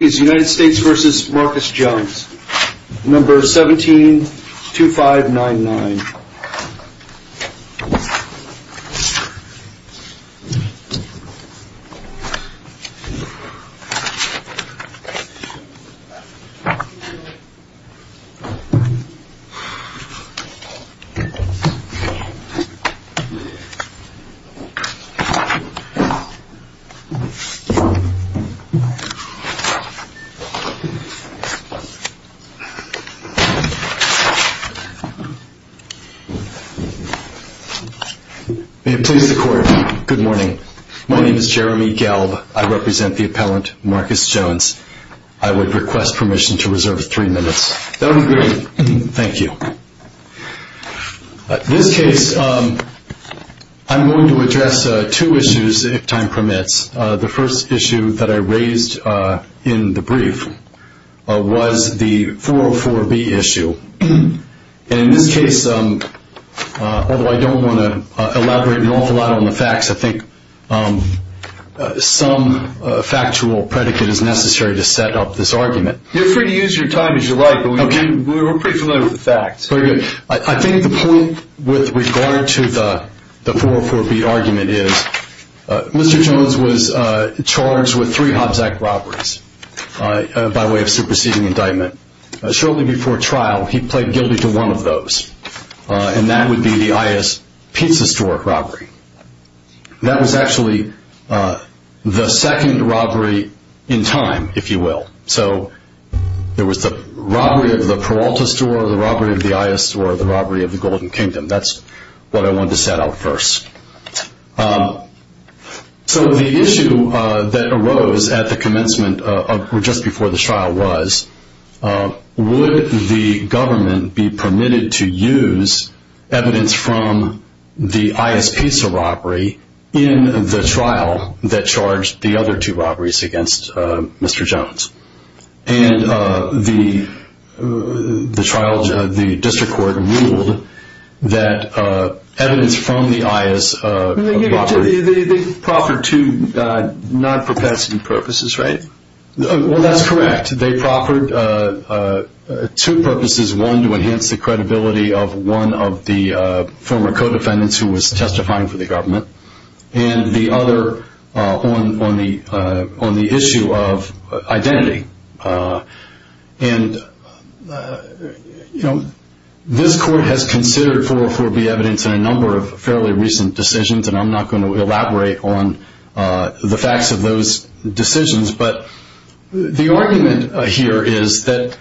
is United States v. Marcus Jones, number 172599. May it please the court. Good morning. My name is Jeremy Gelb. I represent the appellant Marcus Jones. I would request permission to reserve three minutes. That would be great. Thank you. In this case, I'm going to address two issues, if time permits. The first issue that I raised in the brief was the 404B issue. In this case, although I don't want to elaborate an awful lot on the facts, I think some factual predicate is necessary to set up this argument. You're free to use your time as you like, but we're pretty familiar with the facts. There was the robbery of the Peralta store, the robbery of the I.S. store, the robbery of the Golden Kingdom. That's what I wanted to set out first. The issue that arose at the commencement, just before the trial, was would the government be permitted to use evidence from the I.S. pizza robbery in the trial that charged the other two robberies against Mr. Jones? The district court ruled that evidence from the I.S. They proffered two non-propensity purposes, right? Well, that's correct. They proffered two purposes, one to enhance the credibility of one of the former co-defendants who was testifying for the government, and the other on the issue of identity. This court has considered 404B evidence in a number of fairly recent decisions, and I'm not going to elaborate on the facts of those decisions. The argument here is that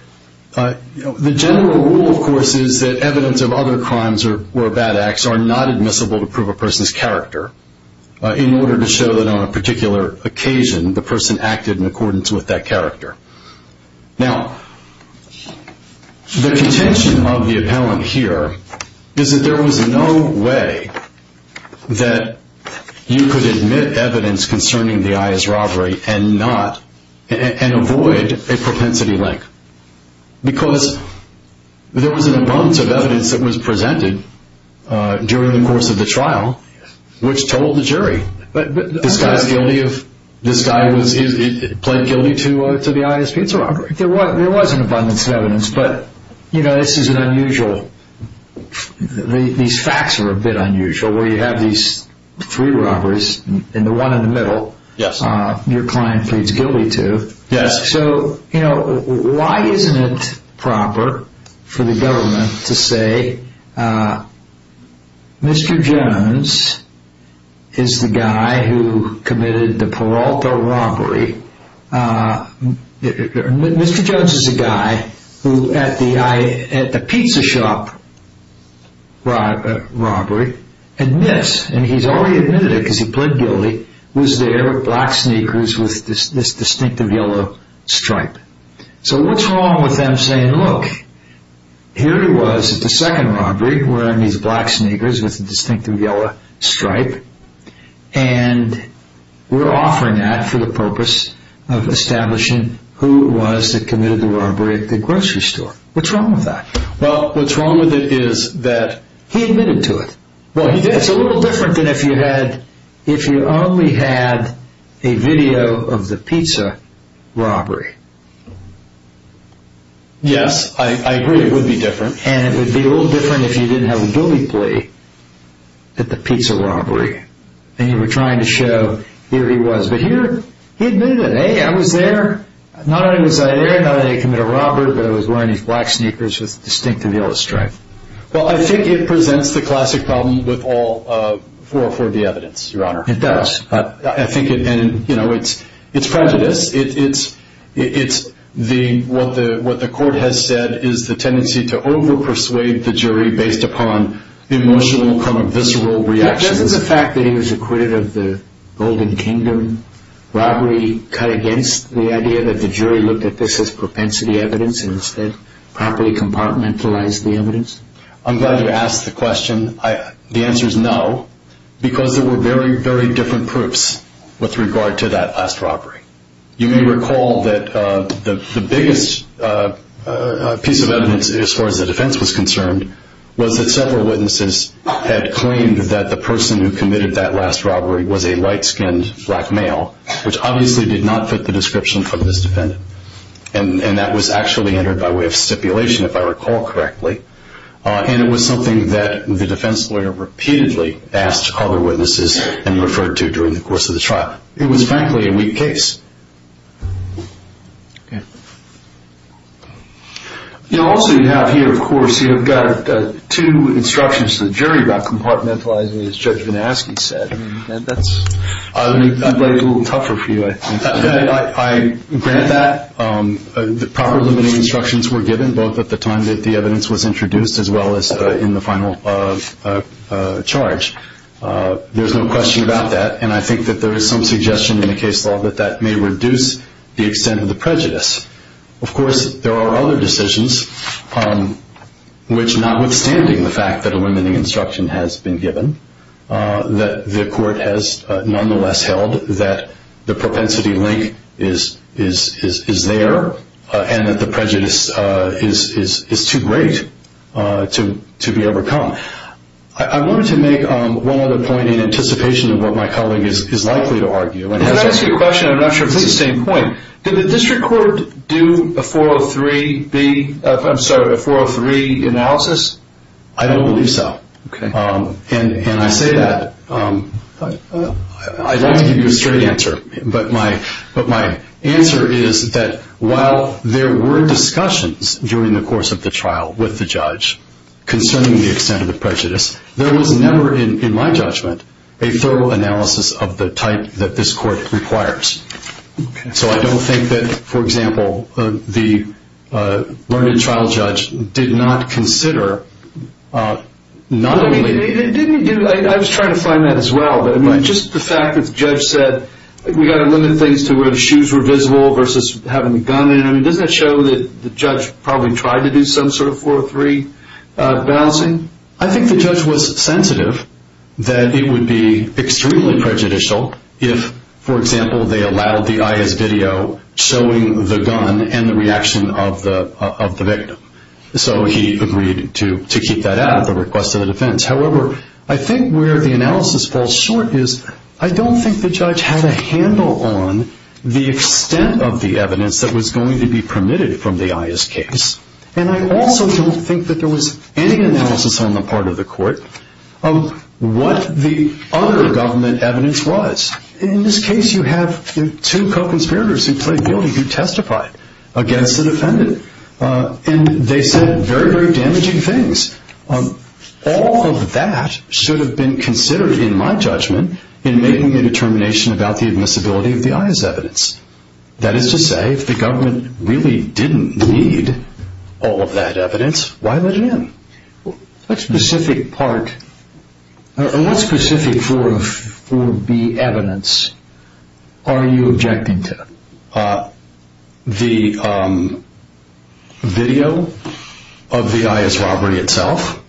the general rule, of course, is that evidence of other crimes or bad acts are not admissible to prove a person's character, in order to show that on a particular occasion, the person acted in accordance with that character. Now, the contention of the appellant here is that there was no way that you could admit evidence concerning the I.S. robbery and avoid a propensity link. Because there was an abundance of evidence that was presented during the course of the trial, which told the jury that this guy was guilty of the I.S. pizza robbery. There was an abundance of evidence, but these facts are a bit unusual, where you have these three robberies, and the one in the middle, your client pleads guilty to. So, why isn't it proper for the government to say, Mr. Jones is the guy who committed the Peralta robbery. Mr. Jones is the guy who, at the pizza shop robbery, admits, and he's already admitted it because he pleaded guilty, was there in black sneakers with this distinctive yellow stripe. So, what's wrong with them saying, look, here he was at the second robbery, wearing these black sneakers with a distinctive yellow stripe, and we're offering that for the purpose of establishing who it was that committed the robbery at the grocery store. What's wrong with that? Well, what's wrong with it is that he admitted to it. Well, he did. It's a little different than if you only had a video of the pizza robbery. Yes, I agree, it would be different. And it would be a little different if you didn't have a guilty plea at the pizza robbery, and you were trying to show, here he was. But here, he admitted it. Hey, I was there. Not only was I there, not only did I commit a robbery, but I was wearing these black sneakers with a distinctive yellow stripe. Well, I think it presents the classic problem with all 404B evidence, Your Honor. It does. I think it's prejudice. What the court has said is the tendency to over-persuade the jury based upon emotional, visceral reactions. Doesn't the fact that he was acquitted of the Golden Kingdom robbery cut against the idea that the jury looked at this as propensity evidence and instead properly compartmentalized the evidence? I'm glad you asked the question. The answer is no, because there were very, very different proofs with regard to that last robbery. You may recall that the biggest piece of evidence, as far as the defense was concerned, was that several witnesses had claimed that the person who committed that last robbery was a light-skinned black male, which obviously did not fit the description for this defendant. And that was actually entered by way of stipulation, if I recall correctly. And it was something that the defense lawyer repeatedly asked other witnesses and referred to during the course of the trial. It was, frankly, a weak case. Also you have here, of course, you've got two instructions to the jury about compartmentalizing, as Judge VanAschke said. That might be a little tougher for you, I think. I grant that. The proper limiting instructions were given both at the time that the evidence was introduced as well as in the final charge. There's no question about that. And I think that there is some suggestion in the case law that that may reduce the extent of the prejudice. Of course, there are other decisions which, notwithstanding the fact that a limiting instruction has been given, that the court has nonetheless held that the propensity link is there and that the prejudice is too great to be overcome. I wanted to make one other point in anticipation of what my colleague is likely to argue. Can I ask you a question? I'm not sure if this is the same point. Did the district court do a 403 analysis? I don't believe so. And I say that. I'd like to give you a straight answer. But my answer is that while there were discussions during the course of the trial with the judge concerning the extent of the prejudice, there was never, in my judgment, a thorough analysis of the type that this court requires. So I don't think that, for example, the learned trial judge did not consider not only… I was trying to find that as well. But just the fact that the judge said we've got to limit things to where the shoes were visible versus having the gun in. I mean, doesn't that show that the judge probably tried to do some sort of 403 balancing? I think the judge was sensitive that it would be extremely prejudicial if, for example, they allowed the IS video showing the gun and the reaction of the victim. So he agreed to keep that out at the request of the defense. However, I think where the analysis falls short is I don't think the judge had a handle on the extent of the evidence that was going to be permitted from the IS case. And I also don't think that there was any analysis on the part of the court of what the other government evidence was. In this case, you have two co-conspirators who played guilty who testified against the defendant. And they said very, very damaging things. All of that should have been considered, in my judgment, in making the determination about the admissibility of the IS evidence. That is to say, if the government really didn't need all of that evidence, why let it in? What specific part… What specific 4B evidence are you objecting to? The video of the IS robbery itself.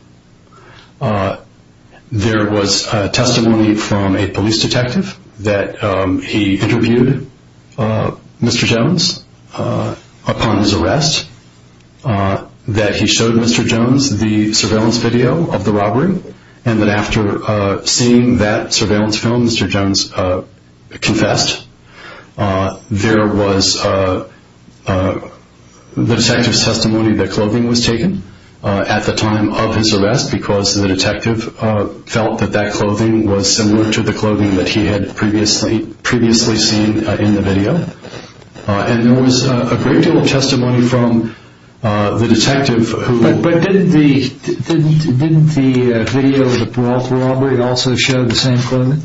There was testimony from a police detective that he interviewed Mr. Jones upon his arrest, that he showed Mr. Jones the surveillance video of the robbery, and that after seeing that surveillance film, Mr. Jones confessed. There was the detective's testimony that clothing was taken at the time of his arrest because the detective felt that that clothing was similar to the clothing that he had previously seen in the video. And there was a great deal of testimony from the detective who… Didn't the video of the Peralta robbery also show the same clothing?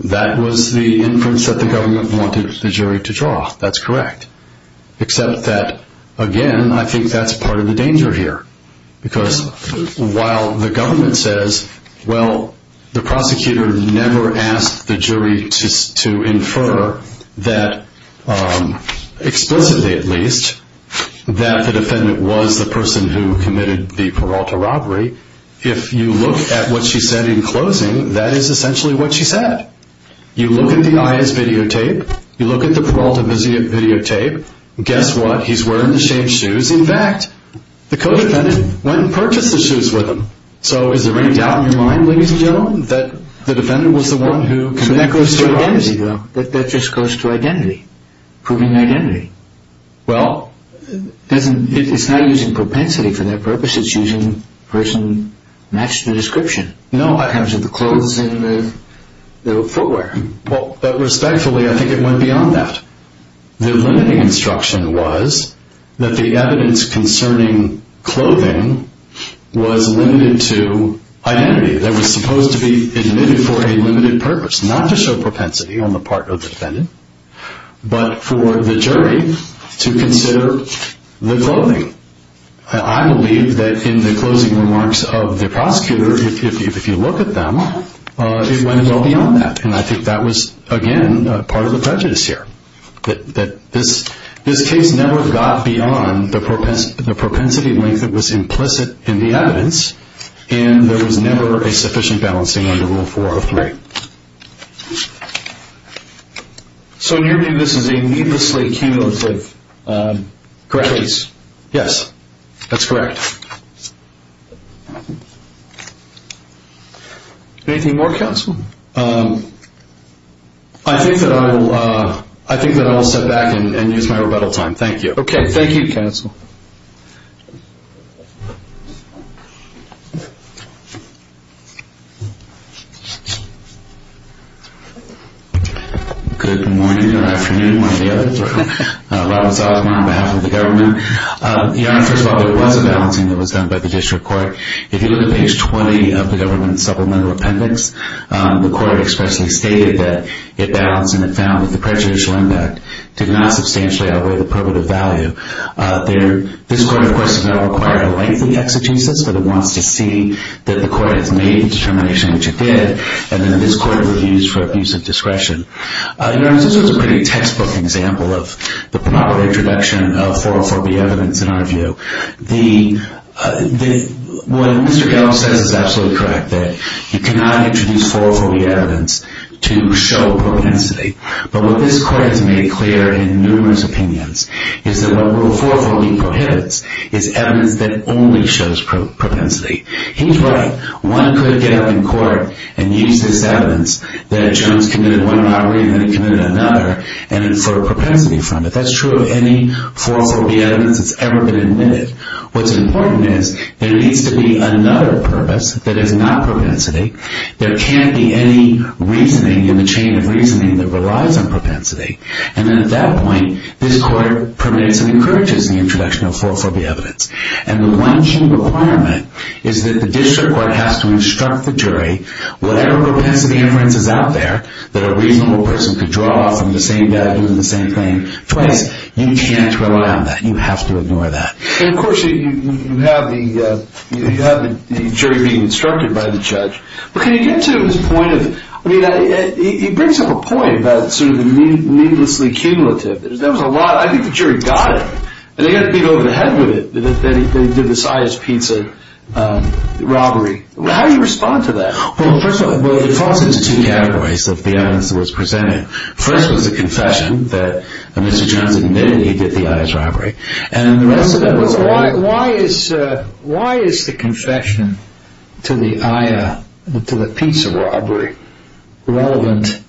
That was the inference that the government wanted the jury to draw. That's correct. Except that, again, I think that's part of the danger here. Because while the government says, Well, the prosecutor never asked the jury to infer that, explicitly at least, that the defendant was the person who committed the Peralta robbery. If you look at what she said in closing, that is essentially what she said. You look at the IS videotape, you look at the Peralta videotape, guess what? He's wearing the same shoes. In fact, the co-defendant went and purchased the shoes with him. So is there any doubt in your mind, ladies and gentlemen, that the defendant was the one who committed the Peralta robbery? That just goes to identity. Proving identity. Well… It's not using propensity for that purpose, it's using person… match the description. No, I… The clothes and the footwear. But respectfully, I think it went beyond that. The limiting instruction was that the evidence concerning clothing was limited to identity. That it was supposed to be admitted for a limited purpose. Not to show propensity on the part of the defendant, but for the jury to consider the clothing. I believe that in the closing remarks of the prosecutor, if you look at them, it went well beyond that. And I think that was, again, part of the prejudice here. That this case never got beyond the propensity length that was implicit in the evidence, and there was never a sufficient balancing under Rule 403. Right. So in your view, this is a needlessly cumulative case? Yes, that's correct. Anything more, counsel? I think that I'll sit back and use my rebuttal time. Thank you. Okay. Thank you, counsel. Good morning or afternoon, whatever the other term. Robert Zalzman on behalf of the government. Your Honor, first of all, there was a balancing that was done by the district court. If you look at page 20 of the government supplemental appendix, the court expressly stated that it balanced and it found that the prejudicial impact did not substantially outweigh the probative value. This court, of course, has not required a lengthy exegesis, but it wants to see that the court has made the determination which it did. And then this court reviews for abuse of discretion. Your Honor, this was a pretty textbook example of the proper introduction of 404B evidence in our view. What Mr. Gallo says is absolutely correct, that you cannot introduce 404B evidence to show propensity. But what this court has made clear in numerous opinions is that what Rule 404B prohibits is evidence that only shows propensity. He's right. One could get up in court and use this evidence that Jones committed one robbery and then committed another and infer propensity from it. That's true of any 404B evidence that's ever been admitted. What's important is there needs to be another purpose that is not propensity. There can't be any reasoning in the chain of reasoning that relies on propensity. And then at that point, this court permits and encourages the introduction of 404B evidence. And the one key requirement is that the district court has to instruct the jury, whatever propensity inference is out there that a reasonable person could draw from the same guy doing the same thing twice, you can't rely on that. You have to ignore that. And, of course, you have the jury being instructed by the judge. But can you get to his point of, I mean, he brings up a point about sort of the needlessly cumulative. That was a lot. I think the jury got it. And they got to beat over the head with it. They did this Aya's Pizza robbery. How do you respond to that? Well, first of all, it falls into two categories of the evidence that was presented. First was a confession that Mr. Jones admitted he did the Aya's robbery. And the rest of that was a lie. Why is the confession to the Aya, to the pizza robbery, relevant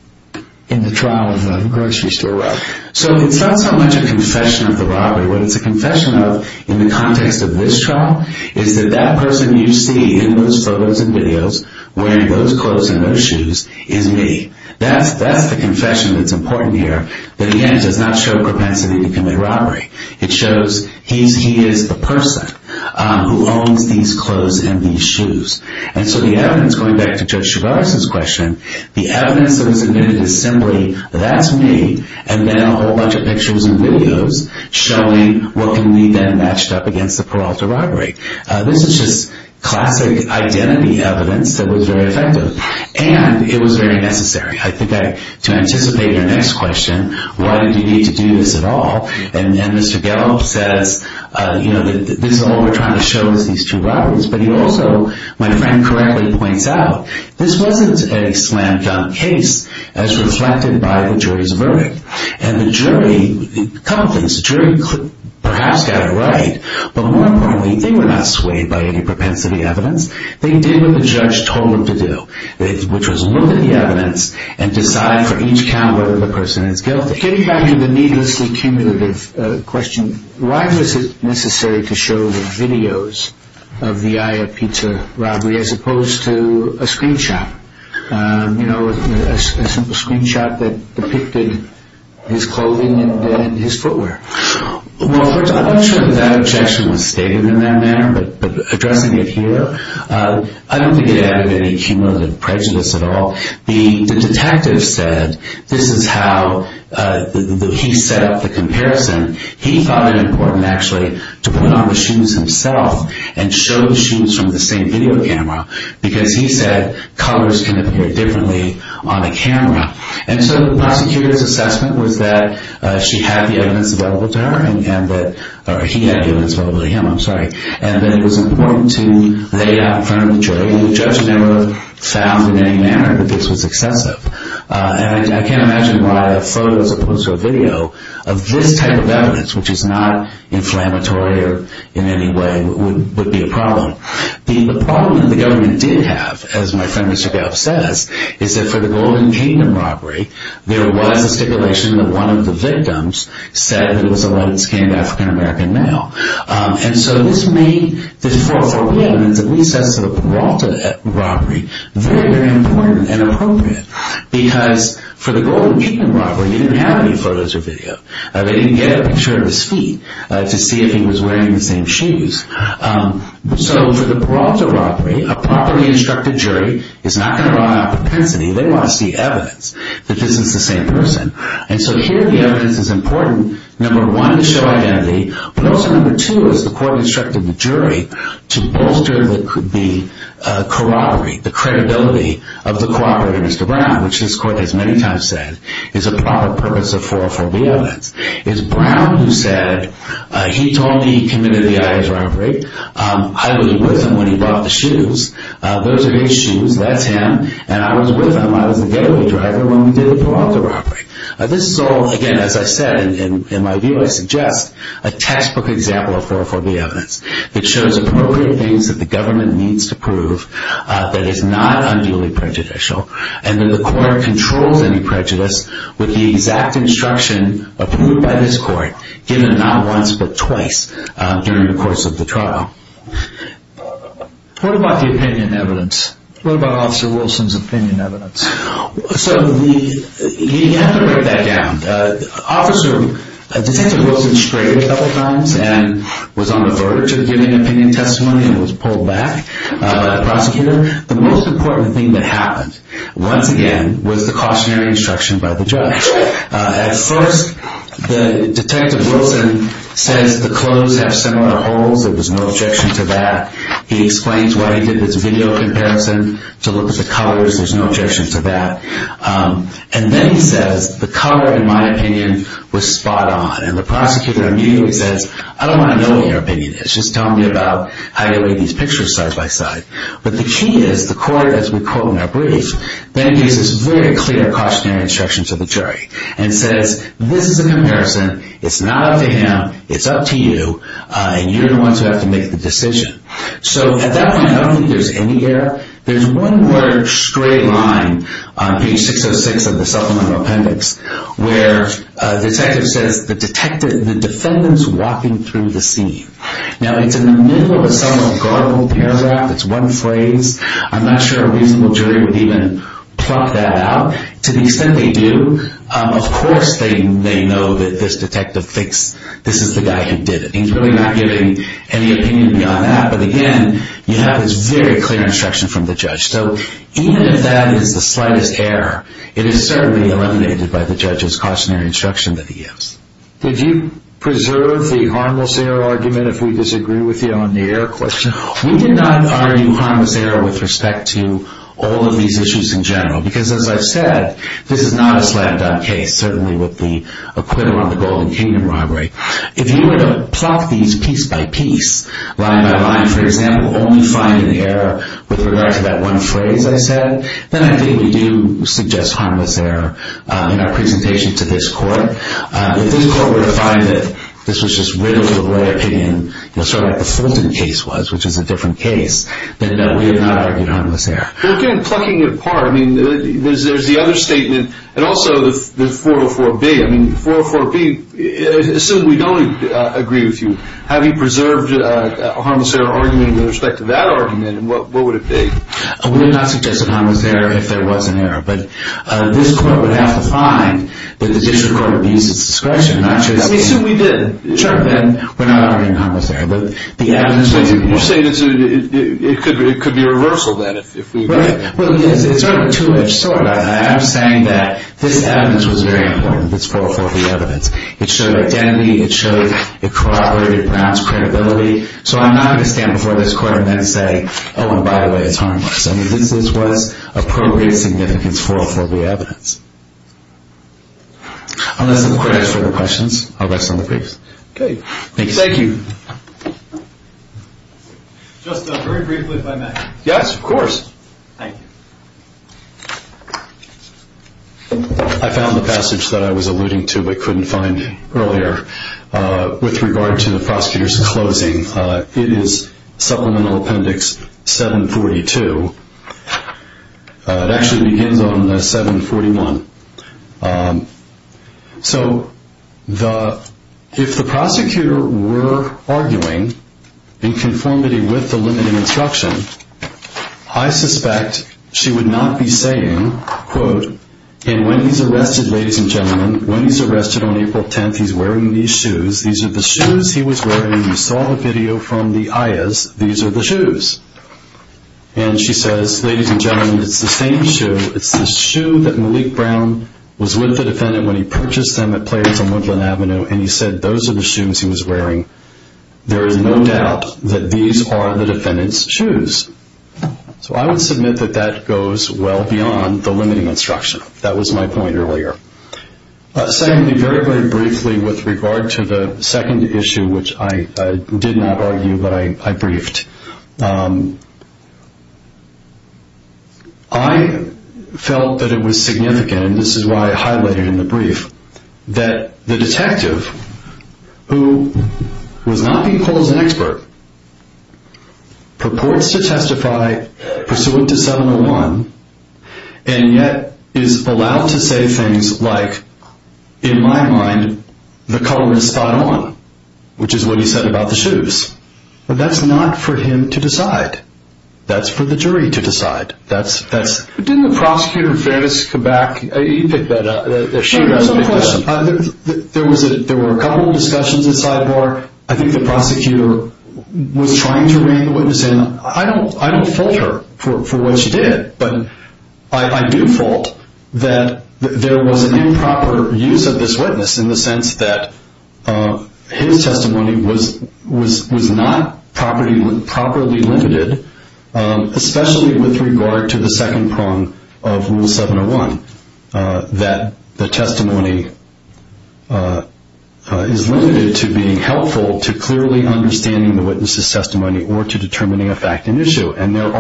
in the trial of the grocery store robber? So it's not so much a confession of the robbery. What it's a confession of, in the context of this trial, is that that person you see in those photos and videos, wearing those clothes and those shoes, is me. That's the confession that's important here. But, again, it does not show propensity to commit robbery. It shows he is the person who owns these clothes and these shoes. And so the evidence, going back to Judge Chavarri's question, the evidence that was admitted is simply that's me, and then a whole bunch of pictures and videos showing what can be then matched up against the Peralta robbery. This is just classic identity evidence that was very effective. And it was very necessary. I think to anticipate your next question, why did you need to do this at all? And then Mr. Gallup says, you know, this is all we're trying to show is these two robberies. But he also, my friend correctly points out, this wasn't a slam-dunk case as reflected by the jury's verdict. And the jury, a couple things. The jury perhaps got it right, but more importantly, they were not swayed by any propensity evidence. They did what the judge told them to do, which was look at the evidence and decide for each count whether the person is guilty. Getting back to the needlessly cumulative question, why was it necessary to show the videos of the Aya Pizza robbery as opposed to a screenshot, you know, a simple screenshot that depicted his clothing and his footwear? Well, I'm not sure that objection was stated in that manner, but addressing it here, I don't think it added any cumulative prejudice at all. The detective said this is how he set up the comparison. He thought it important actually to put on the shoes himself and show the shoes from the same video camera because he said colors can appear differently on the camera. And so the prosecutor's assessment was that she had the evidence available to her and that he had the evidence available to him. And that it was important to lay it out in front of the jury. The judge never found in any manner that this was excessive. And I can't imagine why a photo as opposed to a video of this type of evidence, which is not inflammatory in any way, would be a problem. The problem that the government did have, as my friend Mr. Goff says, is that for the Golden Kingdom robbery, there was a stipulation that one of the victims said that it was a light-skinned African-American male. And so this made this 440 evidence, at least as to the Peralta robbery, very, very important and appropriate. Because for the Golden Kingdom robbery, they didn't have any photos or video. They didn't get a picture of his feet to see if he was wearing the same shoes. So for the Peralta robbery, a properly instructed jury is not going to rely on propensity. They want to see evidence that this is the same person. And so here the evidence is important, number one, to show identity, but also, number two, as the court instructed the jury, to bolster the corroborate, the credibility of the cooperator, Mr. Brown, which this court has many times said is a proper purpose of 440 evidence. It's Brown who said, he told me he committed the Ayers robbery. I was with him when he bought the shoes. Those are his shoes. That's him. And I was with him. I was the gateway driver when we did the Peralta robbery. This is all, again, as I said, in my view, I suggest a textbook example of 440 evidence that shows appropriate things that the government needs to prove that is not unduly prejudicial and that the court controls any prejudice with the exact instruction approved by this court, given not once but twice during the course of the trial. What about the opinion evidence? What about Officer Wilson's opinion evidence? So you have to break that down. Officer, Detective Wilson strayed a couple times and was on the verge of giving an opinion testimony and was pulled back by the prosecutor. The most important thing that happened, once again, was the cautionary instruction by the judge. At first, Detective Wilson says the clothes have similar holes. There was no objection to that. He explains why he did this video comparison to look at the colors. There's no objection to that. And then he says the color, in my opinion, was spot on. And the prosecutor immediately says, I don't want to know what your opinion is. Just tell me about how you weighed these pictures side by side. But the key is the court, as we quote in our brief, then gives this very clear cautionary instruction to the jury and says, this is a comparison. It's not up to him. It's up to you. And you're the ones who have to make the decision. So at that point, I don't think there's any error. There's one large stray line on page 606 of the supplemental appendix where the detective says the defendant's walking through the scene. Now, it's in the middle of a supplemental garbled paragraph. It's one phrase. I'm not sure a reasonable jury would even plot that out. To the extent they do, of course they may know that this detective thinks this is the guy who did it. And he's really not giving any opinion beyond that. But again, you have this very clear instruction from the judge. So even if that is the slightest error, it is certainly eliminated by the judge's cautionary instruction that he gives. Did you preserve the harmless error argument if we disagree with you on the error question? We did not argue harmless error with respect to all of these issues in general. Because as I've said, this is not a slam-dunk case, certainly with the acquittal on the Golden Kingdom robbery. If you were to plot these piece by piece, line by line, for example, only finding the error with regard to that one phrase I said, then I think we do suggest harmless error in our presentation to this court. If this court were to find that this was just riddled with lawyer opinion, sort of like the Fulton case was, which is a different case, then no, we have not argued harmless error. Well, again, plucking it apart, I mean, there's the other statement and also the 404B. I mean, 404B, assume we don't agree with you. Have you preserved a harmless error argument with respect to that argument, and what would it be? We would not suggest a harmless error if there was an error. But this court would have to find that the district court abused its discretion. I assume we did. Sure. And we're not arguing harmless error. But the evidence was... You're saying it could be a reversal, then, if we... Right. Well, it's sort of a two-edged sword. I am saying that this evidence was very important, this 404B evidence. It showed identity. It showed it corroborated Brown's credibility. So I'm not going to stand before this court and then say, oh, and by the way, it's harmless. I mean, this was appropriate significance, 404B evidence. Unless the court has further questions, I'll rest on the briefs. Okay. Just very briefly, if I may. Yes, of course. Thank you. I found the passage that I was alluding to but couldn't find earlier with regard to the prosecutor's closing. It is Supplemental Appendix 742. It actually begins on 741. So if the prosecutor were arguing in conformity with the limiting instruction, I suspect she would not be saying, quote, and when he's arrested, ladies and gentlemen, when he's arrested on April 10th, he's wearing these shoes. These are the shoes he was wearing. You saw the video from the ayahs. These are the shoes. And she says, ladies and gentlemen, it's the same shoe. It's the shoe that Malik Brown was with the defendant when he purchased them at Players on Woodland Avenue, and he said those are the shoes he was wearing. There is no doubt that these are the defendant's shoes. So I would submit that that goes well beyond the limiting instruction. That was my point earlier. Secondly, very, very briefly with regard to the second issue, which I did not argue but I briefed. I felt that it was significant, and this is why I highlighted it in the brief, that the detective, who was not being called as an expert, purports to testify pursuant to 701, and yet is allowed to say things like, in my mind, the color is spot on, which is what he said about the shoes. That's not for him to decide. That's for the jury to decide. Didn't the prosecutor, Fairness, come back? You picked that up. There were a couple of discussions inside the bar. I think the prosecutor was trying to rein the witness in. I don't fault her for what she did, but I do fault that there was an improper use of this witness in the sense that his testimony was not properly limited, especially with regard to the second prong of Rule 701, that the testimony is limited to being helpful to clearly understanding the witness's testimony or to determining a fact and issue. And there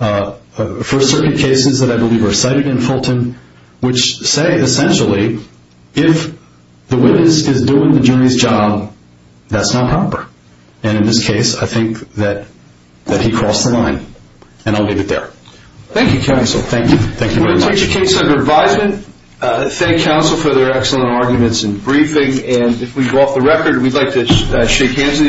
are, for certain cases that I believe are cited in Fulton, which say, essentially, if the witness is doing the jury's job, that's not proper. And in this case, I think that he crossed the line. And I'll leave it there. Thank you, counsel. Thank you. Thank you very much. We'll take a case under advisement. Thank counsel for their excellent arguments and briefing. And if we go off the record, we'd like to shake hands.